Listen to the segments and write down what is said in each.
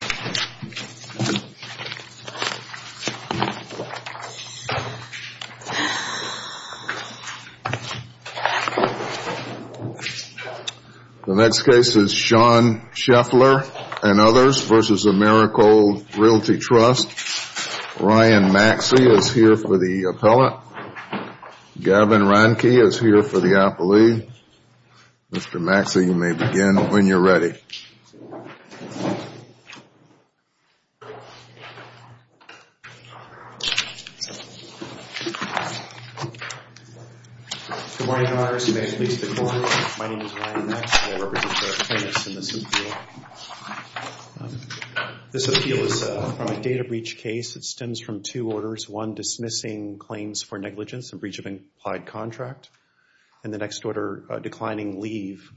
The next case is Sean Sheffler and others versus Americold Realty Trust. Ryan Maxey is here for the appellate. Gavin Reinke is here for the appellee. Mr. Maxey, you may begin when you're ready. Good morning, Your Honors. You may please be seated. My name is Ryan Maxey. I represent the plaintiffs in this appeal. This appeal is from a data breach case. It stems from two orders. One, dismissing claims for negligence and breach of an implied contract. And the next order, declining leave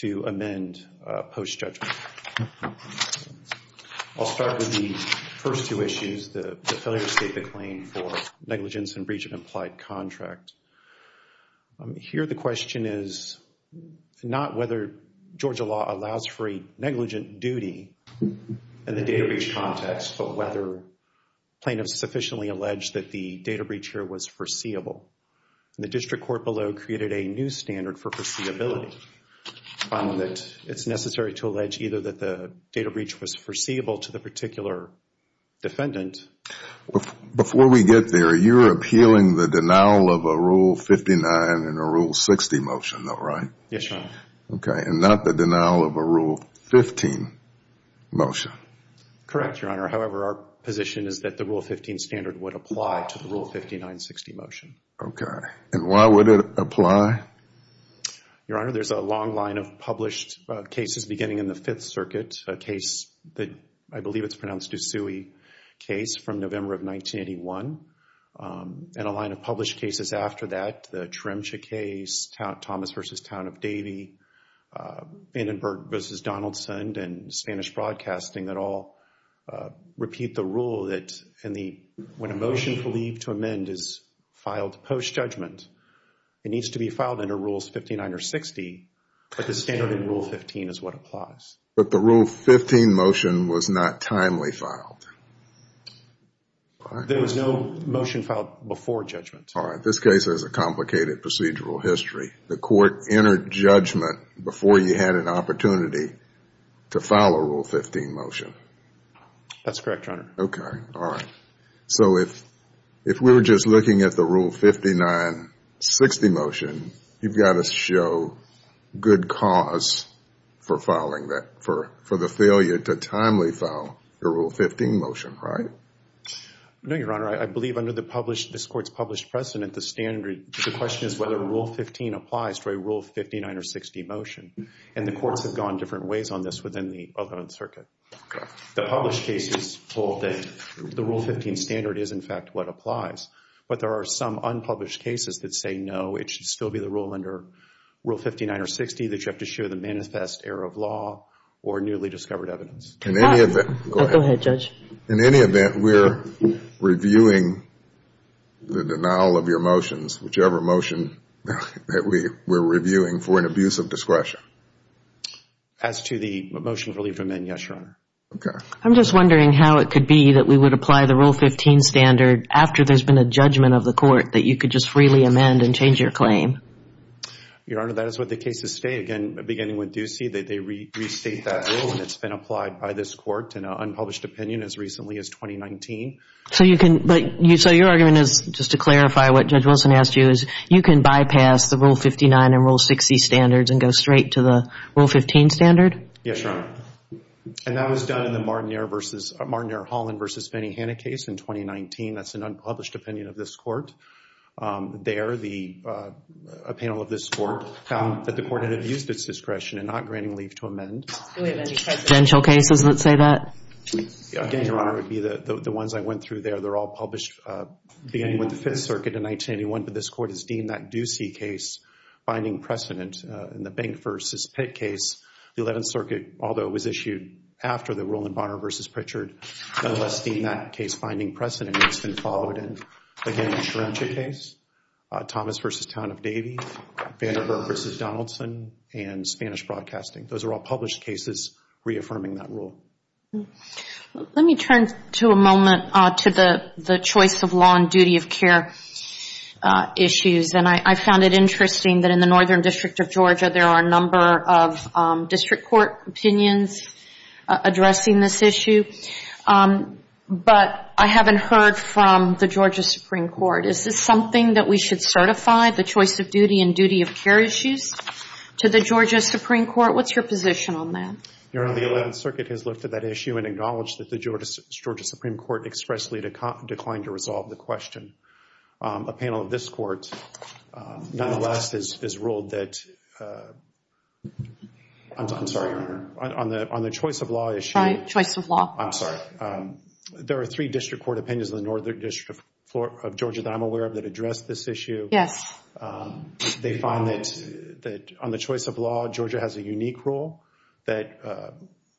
to amend post-judgment. I'll start with the first two issues. The failure to state the claim for negligence and breach of implied contract. Here the question is not whether Georgia law allows for a negligent duty in the data breach context, but whether plaintiffs sufficiently allege that the data breach here was foreseeable. The district court below created a new standard for foreseeability. It's necessary to allege either that the data breach was foreseeable to the particular defendant. Before we get there, you're appealing the denial of a Rule 59 and a Rule 60 motion, though, right? Yes, Your Honor. Okay, and not the denial of a Rule 15 motion. Correct, Your Honor. However, our position is that the Rule 15 standard would apply to the Rule 59-60 motion. Okay, and why would it apply? Your Honor, there's a long line of published cases beginning in the Fifth Circuit, a case that I believe it's pronounced D'Souey case from November of 1981, and a line of published cases after that, the Tremcha case, Thomas v. Town of Davie, Vandenberg v. Donaldson, and Spanish Broadcasting that all repeat the rule that when a motion for leave to amend is filed post-judgment, it needs to be filed under Rules 59 or 60, but the standard in Rule 15 is what applies. But the Rule 15 motion was not timely filed. There was no motion filed before judgment. All right, this case has a complicated procedural history. The court entered judgment before you had an opportunity to file a Rule 15 motion. That's correct, Your Honor. Okay, all right. So if we were just looking at the Rule 59-60 motion, you've got to show good cause for filing that, for the failure to timely file a Rule 15 motion, right? No, Your Honor. I believe under this Court's published precedent, the question is whether Rule 15 applies to a Rule 59 or 60 motion, and the courts have gone different ways on this within the Othman circuit. The published cases hold that the Rule 15 standard is in fact what applies, but there are some unpublished cases that say no, it should still be the rule under Rule 59 or 60, that you have to show the manifest error of law or newly discovered evidence. In any event, go ahead. Go ahead, Judge. In any event, we're reviewing the denial of your motions, whichever motion that we're reviewing for an abuse of discretion. As to the motion for leave to amend, yes, Your Honor. Okay. I'm just wondering how it could be that we would apply the Rule 15 standard after there's been a judgment of the court, that you could just freely amend and change your claim. Your Honor, that is what the cases state. Again, beginning with Ducey, they restate that rule, and it's been applied by this court in an unpublished opinion as recently as 2019. So your argument is, just to clarify what Judge Wilson asked you, is you can bypass the Rule 59 and Rule 60 standards and go straight to the Rule 15 standard? Yes, Your Honor. And that was done in the Martin Ehrholland v. Fannie Hanna case in 2019. That's an unpublished opinion of this court. There, a panel of this court found that the court had abused its discretion in not granting leave to amend. Do we have any presidential cases that say that? Again, Your Honor, it would be the ones I went through there. They're all published beginning with the Fifth Circuit in 1981, but this court has deemed that Ducey case finding precedent. In the Bank v. Pitt case, the Eleventh Circuit, although it was issued after the Roland Bonner v. Pritchard, nonetheless deemed that case finding precedent. It's been followed in, again, the Serencia case, Thomas v. Town of Davies, Vandenberg v. Donaldson, and Spanish Broadcasting. Those are all published cases reaffirming that rule. Let me turn to a moment to the choice of law and duty of care issues. And I found it interesting that in the Northern District of Georgia, there are a number of district court opinions addressing this issue. But I haven't heard from the Georgia Supreme Court. Is this something that we should certify, the choice of duty and duty of care issues, to the Georgia Supreme Court? What's your position on that? Your Honor, the Eleventh Circuit has looked at that issue and acknowledged that the Georgia Supreme Court expressly declined to resolve the question. A panel of this court, nonetheless, has ruled that, I'm sorry, on the choice of law issue. Choice of law. I'm sorry. There are three district court opinions in the Northern District of Georgia that I'm aware of that address this issue. Yes. They find that on the choice of law, Georgia has a unique rule, that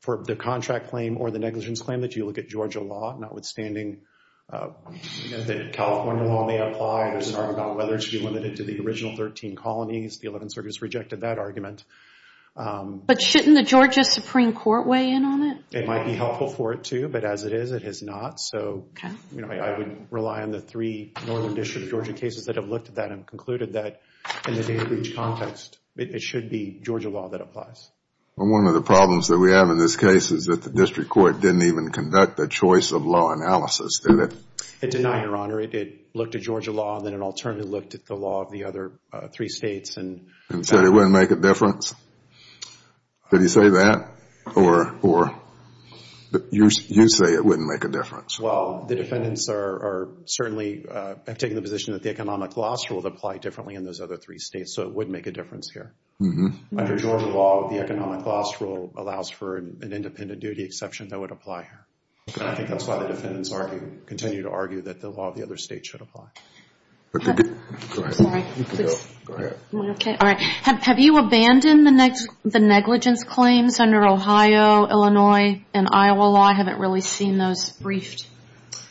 for the contract claim or the negligence claim, that you look at Georgia law, notwithstanding that California law may apply. It's not about whether it should be limited to the original 13 colonies. The Eleventh Circuit has rejected that argument. But shouldn't the Georgia Supreme Court weigh in on it? It might be helpful for it, too, but as it is, it is not. So I would rely on the three Northern District of Georgia cases that have looked at that and concluded that in the data breach context, it should be Georgia law that applies. One of the problems that we have in this case is that the district court didn't even conduct a choice of law analysis, did it? It did not, Your Honor. It looked at Georgia law, and then it alternately looked at the law of the other three states. And said it wouldn't make a difference? Did he say that? Or you say it wouldn't make a difference? Well, the defendants are certainly taking the position that the economic loss rule would apply differently in those other three states, so it would make a difference here. Under Georgia law, the economic loss rule allows for an independent duty exception that would apply here. And I think that's why the defendants continue to argue that the law of the other states should apply. Go ahead. Have you abandoned the negligence claims under Ohio, Illinois, and Iowa law? I haven't really seen those briefed.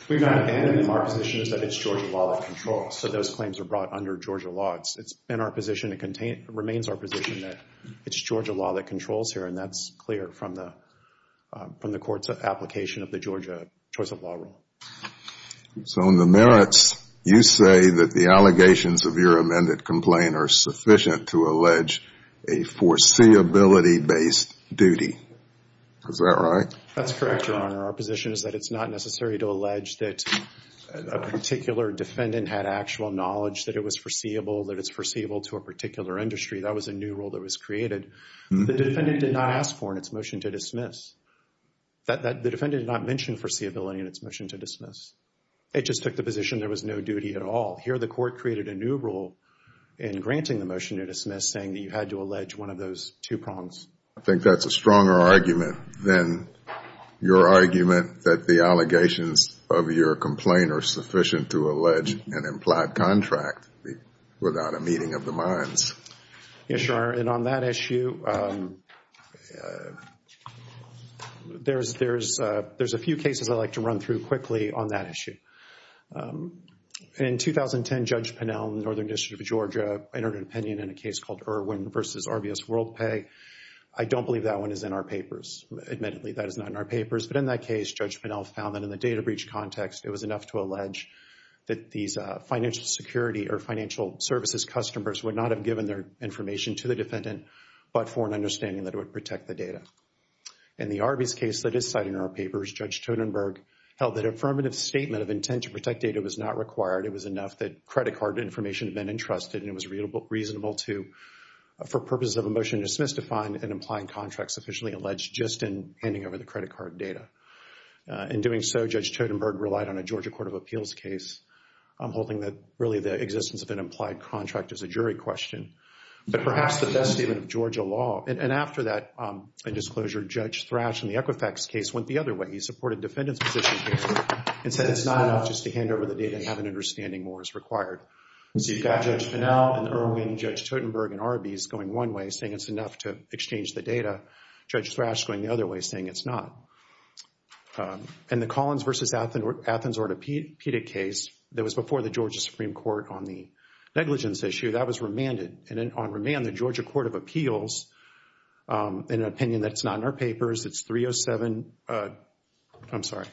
We've not abandoned them. Our position is that it's Georgia law that controls. So those claims are brought under Georgia law. It remains our position that it's Georgia law that controls here, and that's clear from the court's application of the Georgia choice of law rule. So on the merits, you say that the allegations of your amended complaint are sufficient to allege a foreseeability-based duty. Is that right? That's correct, Your Honor. Our position is that it's not necessary to allege that a particular defendant had actual knowledge that it was foreseeable, that it's foreseeable to a particular industry. That was a new rule that was created. The defendant did not ask for in its motion to dismiss. The defendant did not mention foreseeability in its motion to dismiss. It just took the position there was no duty at all. Here the court created a new rule in granting the motion to dismiss saying that you had to allege one of those two prongs. I think that's a stronger argument than your argument that the allegations of your complaint are sufficient to allege an implied contract without a meeting of the minds. Yes, Your Honor. And on that issue, there's a few cases I'd like to run through quickly on that issue. In 2010, Judge Pinnell in the Northern District of Georgia entered an opinion in a case called Irwin v. RBS WorldPay. I don't believe that one is in our papers. Admittedly, that is not in our papers. But in that case, Judge Pinnell found that in the data breach context, it was enough to allege that these financial security or financial services customers would not have given their information to the defendant but for an understanding that it would protect the data. In the RBS case that is cited in our papers, Judge Totenberg held that affirmative statement of intent to protect data was not required. It was enough that credit card information had been entrusted and it was reasonable for purposes of a motion to dismiss to find an implied contract sufficiently alleged just in handing over the credit card data. In doing so, Judge Totenberg relied on a Georgia Court of Appeals case holding that really the existence of an implied contract is a jury question. But perhaps the best statement of Georgia law, and after that disclosure, Judge Thrash in the Equifax case went the other way. He supported defendant's position here and said it's not enough just to hand over the data and have an understanding more is required. So you've got Judge Pinnell and Irwin, Judge Totenberg, and RBS going one way saying it's enough to exchange the data, Judge Thrash going the other way saying it's not. And the Collins v. Athens orthopedic case that was before the Georgia Supreme Court on the negligence issue, that was remanded. And on remand, the Georgia Court of Appeals, in an opinion that's not in our papers, it's 307, I'm sorry,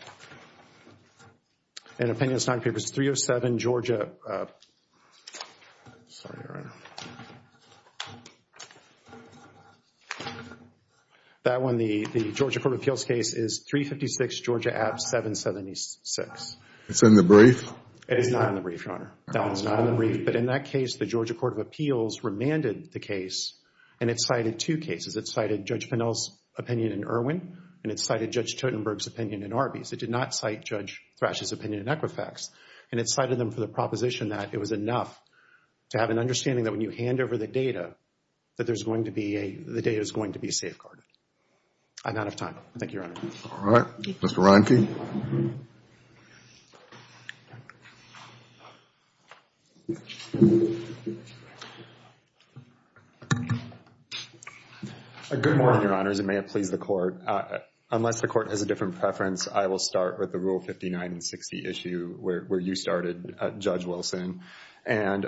in an opinion that's not in papers, 307 Georgia, sorry, right. That one, the Georgia Court of Appeals case is 356 Georgia at 776. It's in the brief? It is not in the brief, Your Honor. That one's not in the brief. But in that case, the Georgia Court of Appeals remanded the case and it cited two cases. It cited Judge Pinnell's opinion in Irwin and it cited Judge Totenberg's opinion in RBS. It did not cite Judge Thrash's opinion in Equifax. And it cited them for the proposition that it was enough to have an understanding that when you hand over the data, that there's going to be a, the data is going to be safeguarded. I'm out of time. Thank you, Your Honor. All right. Mr. Reinke. Good morning, Your Honors, and may it please the Court. Unless the Court has a different preference, I will start with the Rule 59 and 60 issue where you started, Judge Wilson. And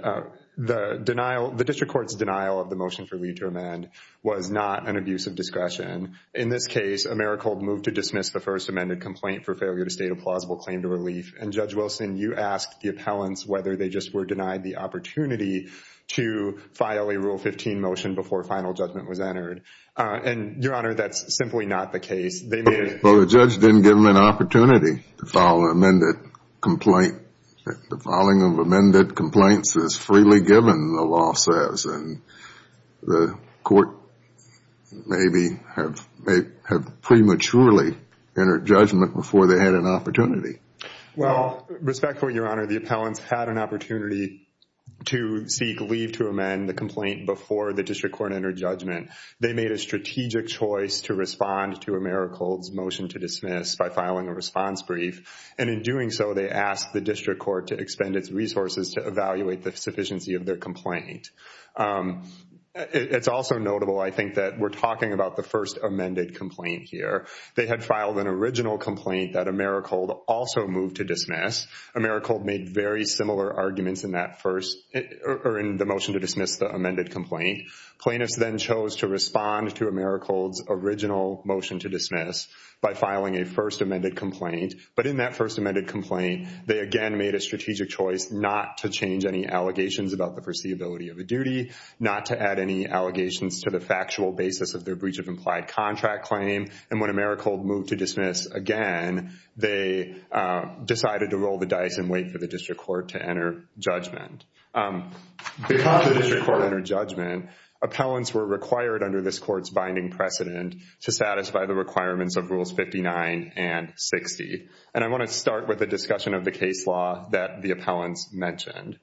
the denial, the district court's denial of the motion for leave to amend was not an abuse of discretion. In this case, Americhold moved to dismiss the first amended complaint for failure to state a plausible claim to relief. And, Judge Wilson, you asked the appellants whether they just were denied the opportunity to file a Rule 15 motion before final judgment was entered. And, Your Honor, that's simply not the case. They made it. Well, the judge didn't give them an opportunity to file an amended complaint. The filing of amended complaints is freely given, the law says. And the Court maybe had prematurely entered judgment before they had an opportunity. Well, respectfully, Your Honor, the appellants had an opportunity to seek leave to amend the complaint before the district court entered judgment. They made a strategic choice to respond to Americhold's motion to dismiss by filing a response brief. And in doing so, they asked the district court to expend its resources to evaluate the sufficiency of their complaint. It's also notable, I think, that we're talking about the first amended complaint here. They had filed an original complaint that Americhold also moved to dismiss. Americhold made very similar arguments in the motion to dismiss the amended complaint. Plaintiffs then chose to respond to Americhold's original motion to dismiss by filing a first amended complaint. But in that first amended complaint, they again made a strategic choice not to change any allegations about the foreseeability of a duty, not to add any allegations to the factual basis of their breach of implied contract claim. And when Americhold moved to dismiss again, they decided to roll the dice and wait for the district court to enter judgment. Because the district court entered judgment, appellants were required under this Court's binding precedent to satisfy the requirements of Rules 59 and 60. And I want to start with a discussion of the case law that the appellants mentioned.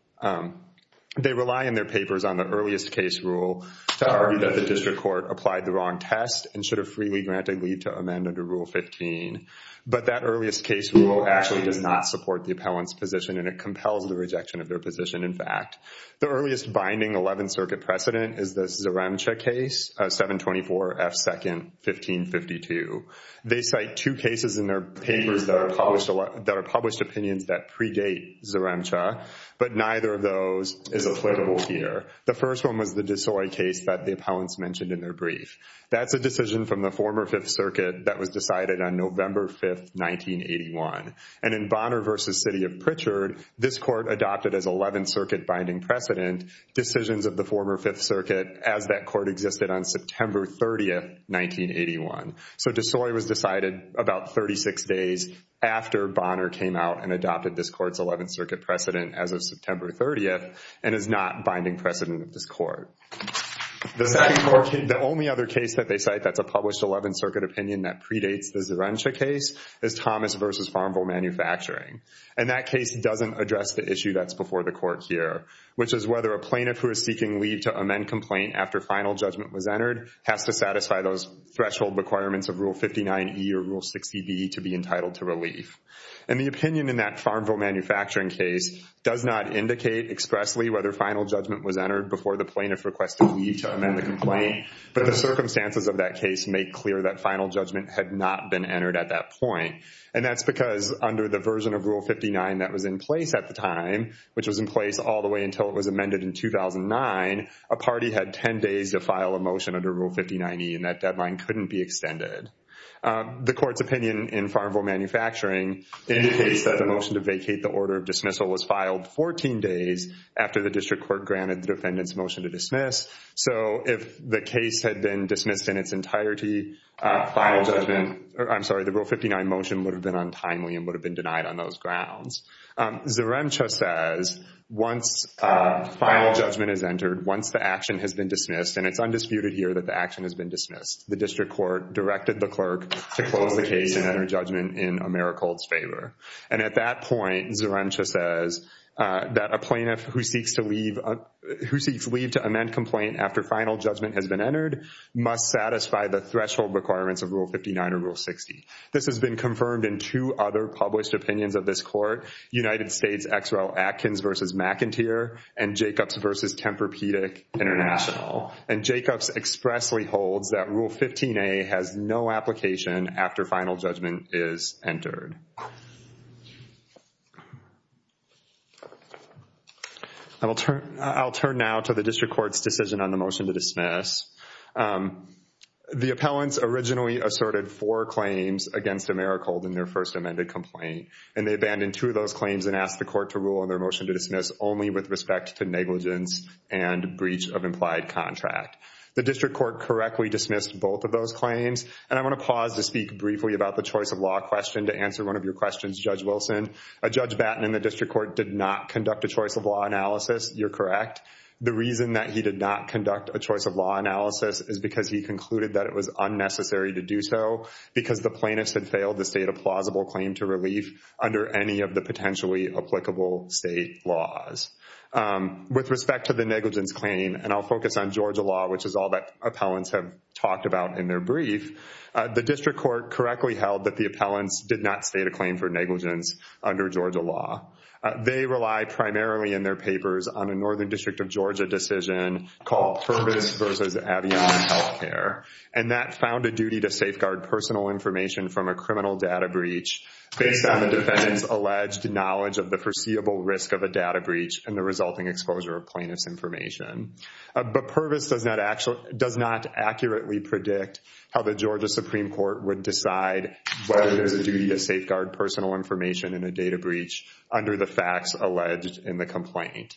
They rely in their papers on the earliest case rule to argue that the district court applied the wrong test and should have freely granted leave to amend under Rule 15. But that earliest case rule actually does not support the appellant's position, and it compels the rejection of their position, in fact. The earliest binding Eleventh Circuit precedent is the Zaremcha case, 724 F. 2nd, 1552. They cite two cases in their papers that are published opinions that predate Zaremcha, but neither of those is applicable here. The first one was the Desoi case that the appellants mentioned in their brief. That's a decision from the former Fifth Circuit that was decided on November 5th, 1981. And in Bonner v. City of Pritchard, this Court adopted as Eleventh Circuit binding precedent decisions of the former Fifth Circuit as that Court existed on September 30th, 1981. So Desoi was decided about 36 days after Bonner came out and adopted this Court's Eleventh Circuit precedent as of September 30th and is not binding precedent of this Court. The only other case that they cite that's a published Eleventh Circuit opinion that predates the Zaremcha case is Thomas v. Farmville Manufacturing. And that case doesn't address the issue that's before the Court here, which is whether a plaintiff who is seeking leave to amend complaint after final judgment was entered has to satisfy those threshold requirements of Rule 59E or Rule 60B to be entitled to relief. And the opinion in that Farmville Manufacturing case does not indicate expressly whether final judgment was entered before the plaintiff requested leave to amend the complaint, but the circumstances of that case make clear that final judgment had not been entered at that point. And that's because under the version of Rule 59 that was in place at the time, which was in place all the way until it was amended in 2009, a party had 10 days to file a motion under Rule 59E and that deadline couldn't be extended. The Court's opinion in Farmville Manufacturing indicates that the motion to vacate the order of dismissal was filed 14 days after the District Court granted the defendant's motion to dismiss. So if the case had been dismissed in its entirety, the Rule 59 motion would have been untimely and would have been denied on those grounds. Zeremcha says once final judgment is entered, once the action has been dismissed, and it's undisputed here that the action has been dismissed, the District Court directed the clerk to close the case and enter judgment in Americold's favor. And at that point, Zeremcha says that a plaintiff who seeks leave to amend complaint after final judgment has been entered must satisfy the threshold requirements of Rule 59 or Rule 60. This has been confirmed in two other published opinions of this Court, United States X. R. L. Atkins v. McInteer and Jacobs v. Tempur-Pedic International. And Jacobs expressly holds that Rule 15a has no application after final judgment is entered. I'll turn now to the District Court's decision on the motion to dismiss. The appellants originally asserted four claims against Americold in their first amended complaint, and they abandoned two of those claims and asked the Court to rule on their motion to dismiss only with respect to negligence and breach of implied contract. The District Court correctly dismissed both of those claims, and I want to pause to speak briefly about the choice-of-law question to answer one of your questions, Judge Wilson. Judge Batten in the District Court did not conduct a choice-of-law analysis. You're correct. The reason that he did not conduct a choice-of-law analysis is because he concluded that it was unnecessary to do so because the plaintiffs had failed to state a plausible claim to relief under any of the potentially applicable state laws. With respect to the negligence claim, and I'll focus on Georgia law, which is all that appellants have talked about in their brief, the District Court correctly held that the appellants did not state a claim for negligence under Georgia law. They relied primarily in their papers on a Northern District of Georgia decision called Purvis v. Avignon Health Care, and that found a duty to safeguard personal information from a criminal data breach based on the defendant's alleged knowledge of the foreseeable risk of a data breach and the resulting exposure of plaintiff's information. But Purvis does not accurately predict how the Georgia Supreme Court would decide whether there's a duty to safeguard personal information in a data breach under the facts alleged in the complaint.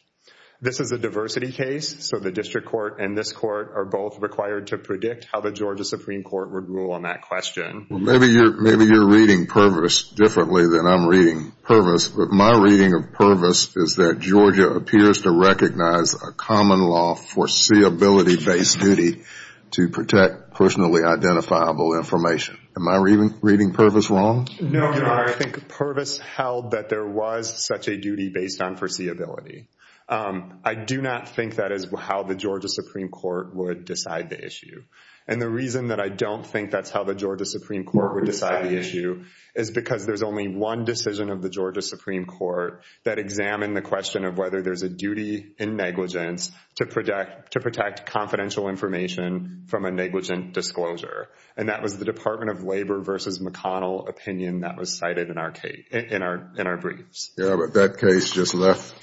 This is a diversity case, so the District Court and this Court are both required to predict how the Georgia Supreme Court would rule on that question. Well, maybe you're reading Purvis differently than I'm reading Purvis, but my reading of Purvis is that Georgia appears to recognize a common law foreseeability-based duty to protect personally identifiable information. Am I reading Purvis wrong? No, no, I think Purvis held that there was such a duty based on foreseeability. I do not think that is how the Georgia Supreme Court would decide the issue. And the reason that I don't think that's how the Georgia Supreme Court would decide the issue is because there's only one decision of the Georgia Supreme Court that examined the question of whether there's a duty in negligence to protect confidential information from a negligent disclosure, and that was the Department of Labor v. McConnell opinion that was cited in our briefs. Yeah, but that case just left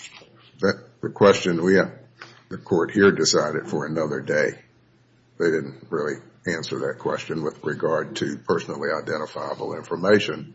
the question. The Court here decided for another day. They didn't really answer that question with regard to personally identifiable information,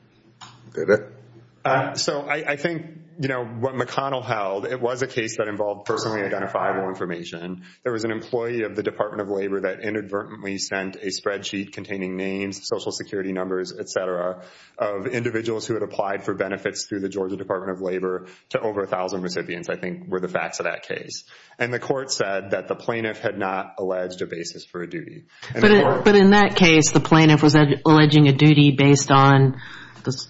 did it? So I think what McConnell held, it was a case that involved personally identifiable information. There was an employee of the Department of Labor that inadvertently sent a spreadsheet containing names, Social Security numbers, et cetera, of individuals who had applied for benefits through the Georgia Department of Labor to over 1,000 recipients, I think, were the facts of that case. And the Court said that the plaintiff had not alleged a basis for a duty. But in that case, the plaintiff was alleging a duty based on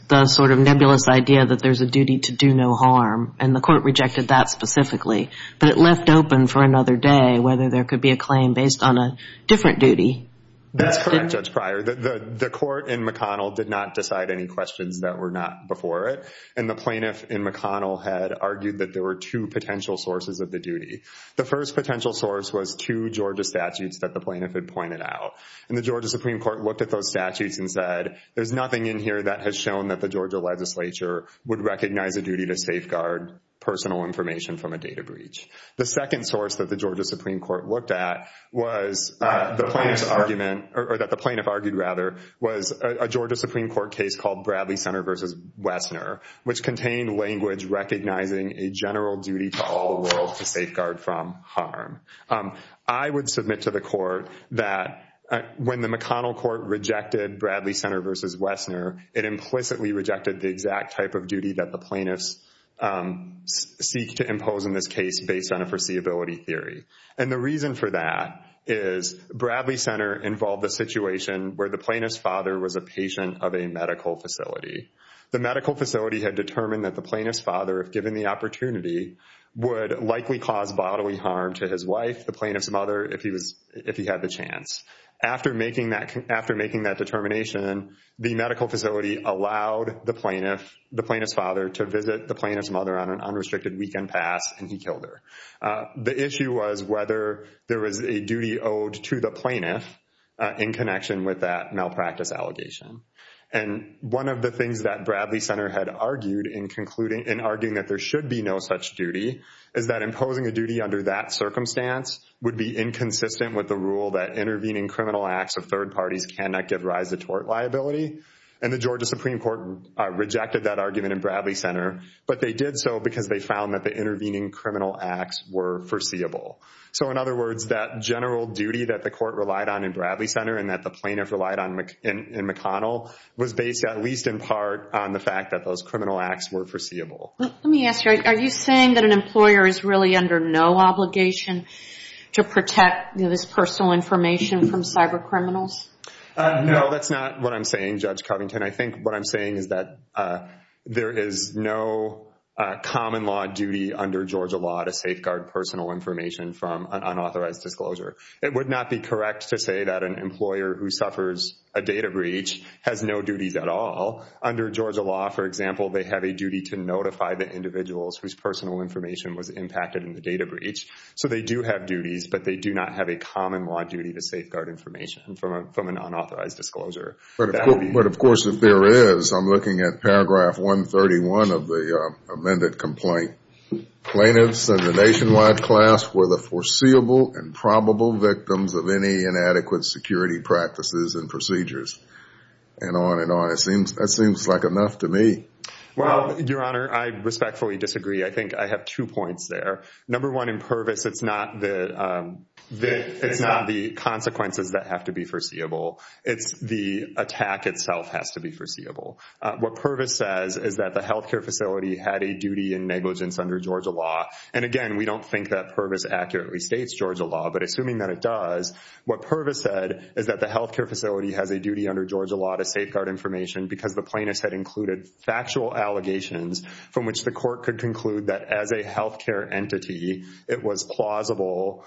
the sort of nebulous idea that there's a duty to do no harm, and the Court rejected that specifically. But it left open for another day whether there could be a claim based on a different duty. That's correct, Judge Pryor. The Court in McConnell did not decide any questions that were not before it, and the plaintiff in McConnell had argued that there were two potential sources of the duty. The first potential source was two Georgia statutes that the plaintiff had pointed out, and the Georgia Supreme Court looked at those statutes and said, there's nothing in here that has shown that the Georgia legislature would recognize a duty to safeguard personal information from a data breach. The second source that the Georgia Supreme Court looked at was the plaintiff's argument, or that the plaintiff argued, rather, was a Georgia Supreme Court case called Bradley Center v. Wessner, which contained language recognizing a general duty to all the world to safeguard from harm. I would submit to the Court that when the McConnell Court rejected Bradley Center v. Wessner, it implicitly rejected the exact type of duty that the plaintiffs seek to impose in this case based on a foreseeability theory. And the reason for that is Bradley Center involved a situation where the plaintiff's father was a patient of a medical facility. The medical facility had determined that the plaintiff's father, if given the opportunity, would likely cause bodily harm to his wife, the plaintiff's mother, if he had the chance. After making that determination, the medical facility allowed the plaintiff's father to visit the plaintiff's mother on an unrestricted weekend pass, and he killed her. The issue was whether there was a duty owed to the plaintiff in connection with that malpractice allegation. And one of the things that Bradley Center had argued in concluding, in arguing that there should be no such duty, is that imposing a duty under that circumstance would be inconsistent with the rule that intervening criminal acts of third parties cannot give rise to tort liability. And the Georgia Supreme Court rejected that argument in Bradley Center, but they did so because they found that the intervening criminal acts were foreseeable. So, in other words, that general duty that the court relied on in Bradley Center and that the plaintiff relied on in McConnell was based at least in part on the fact that those criminal acts were foreseeable. Let me ask you, are you saying that an employer is really under no obligation to protect this personal information from cyber criminals? No, that's not what I'm saying, Judge Covington. I think what I'm saying is that there is no common law duty under Georgia law to safeguard personal information from an unauthorized disclosure. It would not be correct to say that an employer who suffers a data breach has no duties at all. Under Georgia law, for example, they have a duty to notify the individuals whose personal information was impacted in the data breach. So they do have duties, but they do not have a common law duty to safeguard information from an unauthorized disclosure. But, of course, if there is, I'm looking at paragraph 131 of the amended complaint. Plaintiffs of the nationwide class were the foreseeable and probable victims of any inadequate security practices and procedures. And on and on. That seems like enough to me. Well, Your Honor, I respectfully disagree. I think I have two points there. Number one, in Pervis, it's not the consequences that have to be foreseeable. It's the attack itself has to be foreseeable. What Pervis says is that the healthcare facility had a duty in negligence under Georgia law. And, again, we don't think that Pervis accurately states Georgia law. But assuming that it does, what Pervis said is that the healthcare facility has a duty under Georgia law to safeguard information because the plaintiffs had included factual allegations from which the court could conclude that as a healthcare entity, it was plausible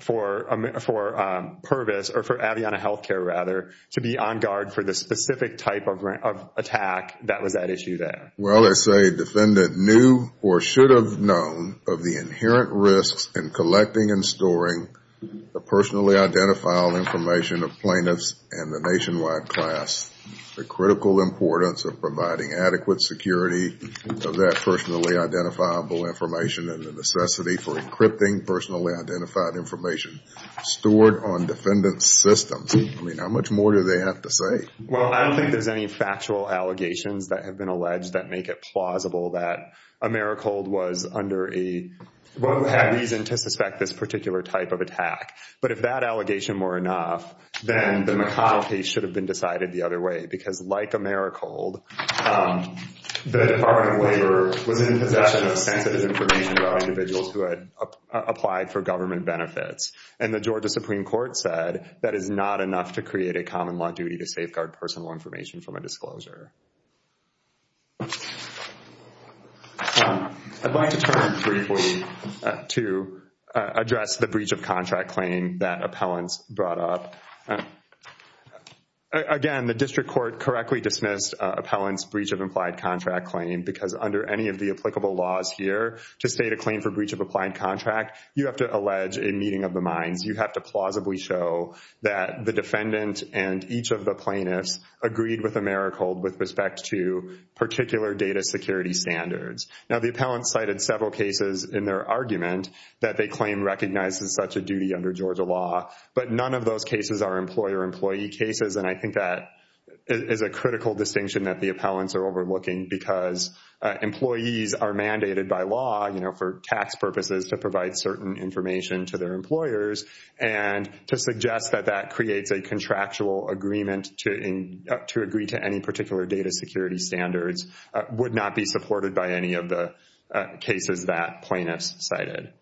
for Pervis or for Aviana Healthcare, rather, to be on guard for the specific type of attack that was at issue there. Well, as a defendant knew or should have known of the inherent risks in collecting and storing the personally identifiable information of plaintiffs and the nationwide class, the critical importance of providing adequate security of that personally identifiable information and the necessity for encrypting personally identified information stored on defendant's systems. I mean, how much more do they have to say? Well, I don't think there's any factual allegations that have been alleged that make it plausible that Americhold was under a reason to suspect this particular type of attack. But if that allegation were enough, then the McConnell case should have been decided the other way. Because like Americhold, the Department of Labor was in possession of sensitive information about individuals who had applied for government benefits. And the Georgia Supreme Court said that is not enough to create a common law duty to safeguard personal information from a disclosure. I'd like to turn briefly to address the breach of contract claim that appellants brought up. Again, the district court correctly dismissed appellant's breach of implied contract claim because under any of the applicable laws here to state a claim for breach of applied contract, you have to allege a meeting of the minds. You have to plausibly show that the defendant and each of the plaintiffs agreed with Americhold with respect to particular data security standards. Now, the appellant cited several cases in their argument that they claim recognizes such a duty under Georgia law. But none of those cases are employer-employee cases. And I think that is a critical distinction that the appellants are overlooking because employees are mandated by law for tax purposes to provide certain information to their employers. And to suggest that that creates a contractual agreement to agree to any particular data security standards would not be supported by any of the cases that plaintiffs cited.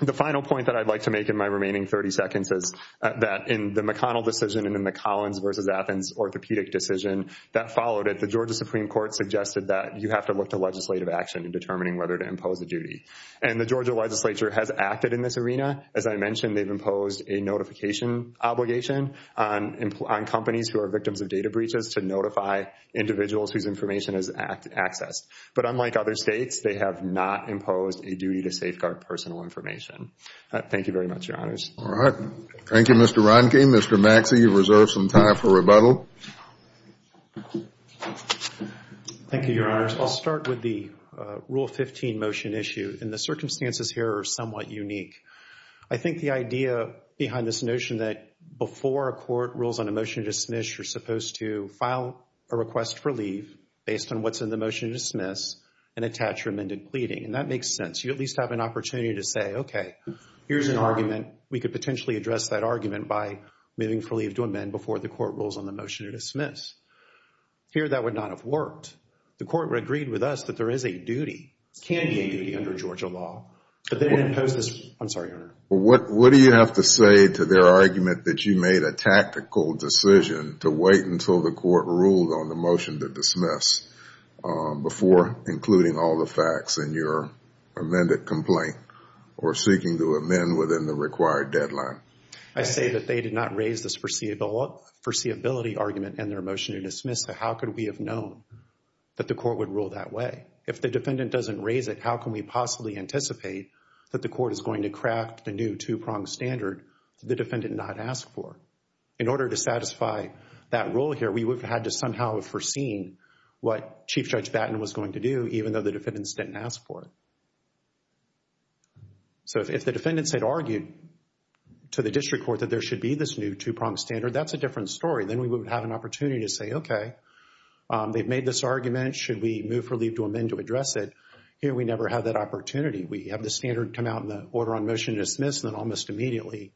The final point that I'd like to make in my remaining 30 seconds is that in the McConnell decision and in the Collins versus Athens orthopedic decision that followed it, the Georgia Supreme Court suggested that you have to look to legislative action in determining whether to impose a duty. And the Georgia legislature has acted in this arena. As I mentioned, they've imposed a notification obligation on companies who are victims of data breaches to notify individuals whose information is accessed. But unlike other states, they have not imposed a duty to safeguard personal information. Thank you very much, Your Honors. All right. Thank you, Mr. Ronke. Mr. Maxey, you've reserved some time for rebuttal. Thank you, Your Honors. I'll start with the Rule 15 motion issue. And the circumstances here are somewhat unique. I think the idea behind this notion that before a court rules on a motion to dismiss, you're supposed to file a request for leave based on what's in the motion to dismiss and attach your amended pleading. And that makes sense. You at least have an opportunity to say, okay, here's an argument. We could potentially address that argument by moving for leave to amend before the court rules on the motion to dismiss. Here, that would not have worked. The court agreed with us that there is a duty. It can be a duty under Georgia law. But they didn't impose this. I'm sorry, Your Honor. What do you have to say to their argument that you made a tactical decision to wait until the court ruled on the motion to dismiss before including all the facts in your amended complaint or seeking to amend within the required deadline? I say that they did not raise this foreseeability argument in their motion to dismiss. So how could we have known that the court would rule that way? If the defendant doesn't raise it, how can we possibly anticipate that the court is going to craft a new two-pronged standard that the defendant did not ask for? In order to satisfy that rule here, we would have had to somehow have foreseen what Chief Judge Batten was going to do even though the defendants didn't ask for it. So if the defendants had argued to the district court that there should be this new two-pronged standard, that's a different story. Then we would have an opportunity to say, okay, they've made this argument. Should we move for leave to amend to address it? Here we never have that opportunity. We have the standard come out and the order on motion is dismissed and almost immediately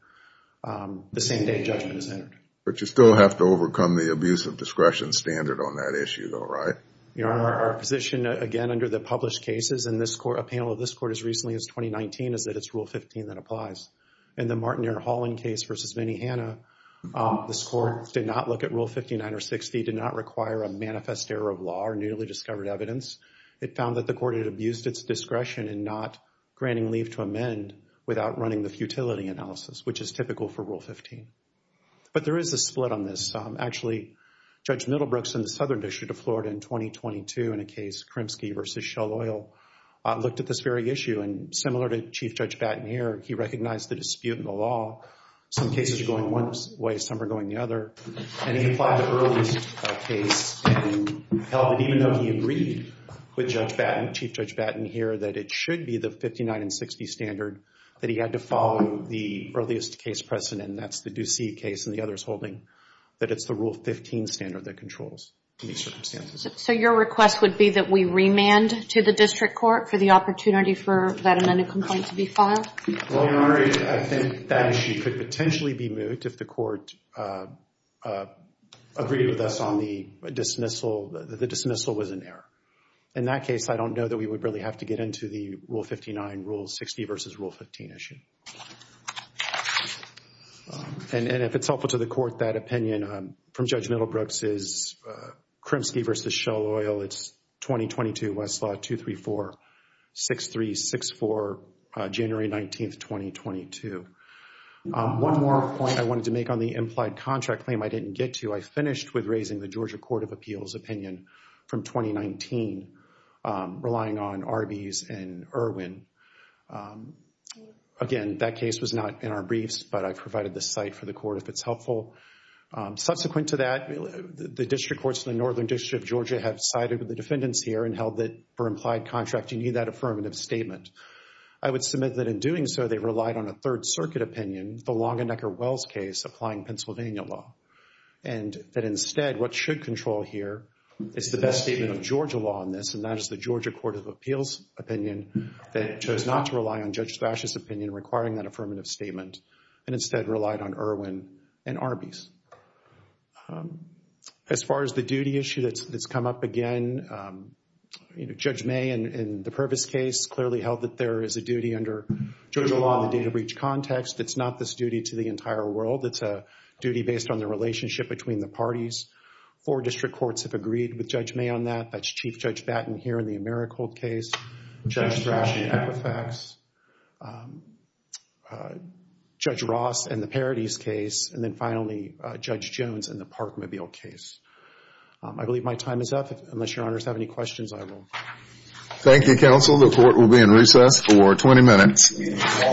the same day judgment is entered. But you still have to overcome the abuse of discretion standard on that issue though, right? Your Honor, our position again under the published cases in this court, a panel of this court as recently as 2019, is that it's Rule 15 that applies. In the Martineer-Holland case versus Minnehanna, this court did not look at Rule 59 or 60, did not require a manifest error of law or newly discovered evidence. It found that the court had abused its discretion in not granting leave to amend without running the futility analysis, which is typical for Rule 15. But there is a split on this. Actually, Judge Middlebrooks in the Southern District of Florida in 2022 in a case, Kremski versus Shell Oil, looked at this very issue. And similar to Chief Judge Batten here, he recognized the dispute in the law. Some cases are going one way, some are going the other. And he applied the earliest case and held it even though he agreed with Judge Batten, Chief Judge Batten here, that it should be the 59 and 60 standard that he had to follow the earliest case precedent. And that's the Ducey case and the others holding that it's the Rule 15 standard that controls in these circumstances. So your request would be that we remand to the district court for the opportunity for that amended complaint to be filed? Well, Your Honor, I think that issue could potentially be moved if the court agreed with us on the dismissal. The dismissal was an error. In that case, I don't know that we would really have to get into the Rule 59, Rule 60 versus Rule 15 issue. And if it's helpful to the court, that opinion from Judge Middlebrooks is Kremski versus Shell Oil. It's 2022 Westlaw 234-6364, January 19th, 2022. One more point I wanted to make on the implied contract claim I didn't get to. I finished with raising the Georgia Court of Appeals opinion from 2019 relying on Arby's and Irwin. Again, that case was not in our briefs, but I provided the site for the court if it's helpful. Subsequent to that, the district courts in the Northern District of Georgia have sided with the defendants here and held that for implied contract, you need that affirmative statement. I would submit that in doing so, they relied on a Third Circuit opinion, the Longenecker-Wells case applying Pennsylvania law. And that instead, what should control here is the best statement of Georgia law on this, and that is the Georgia Court of Appeals opinion that chose not to rely on Judge Slash's opinion requiring that affirmative statement and instead relied on Irwin and Arby's. As far as the duty issue that's come up again, Judge May in the Purvis case clearly held that there is a duty under Georgia law in the data breach context. It's not this duty to the entire world. It's a duty based on the relationship between the parties. Four district courts have agreed with Judge May on that. That's Chief Judge Batten here in the Americold case, Judge Slash in Equifax, Judge Ross in the Paradis case, and then finally, Judge Jones in the Parkmobile case. I believe my time is up. Unless your honors have any questions, I will... Thank you, counsel. The court will be in recess for 20 minutes. All rise. Thank you, counsel.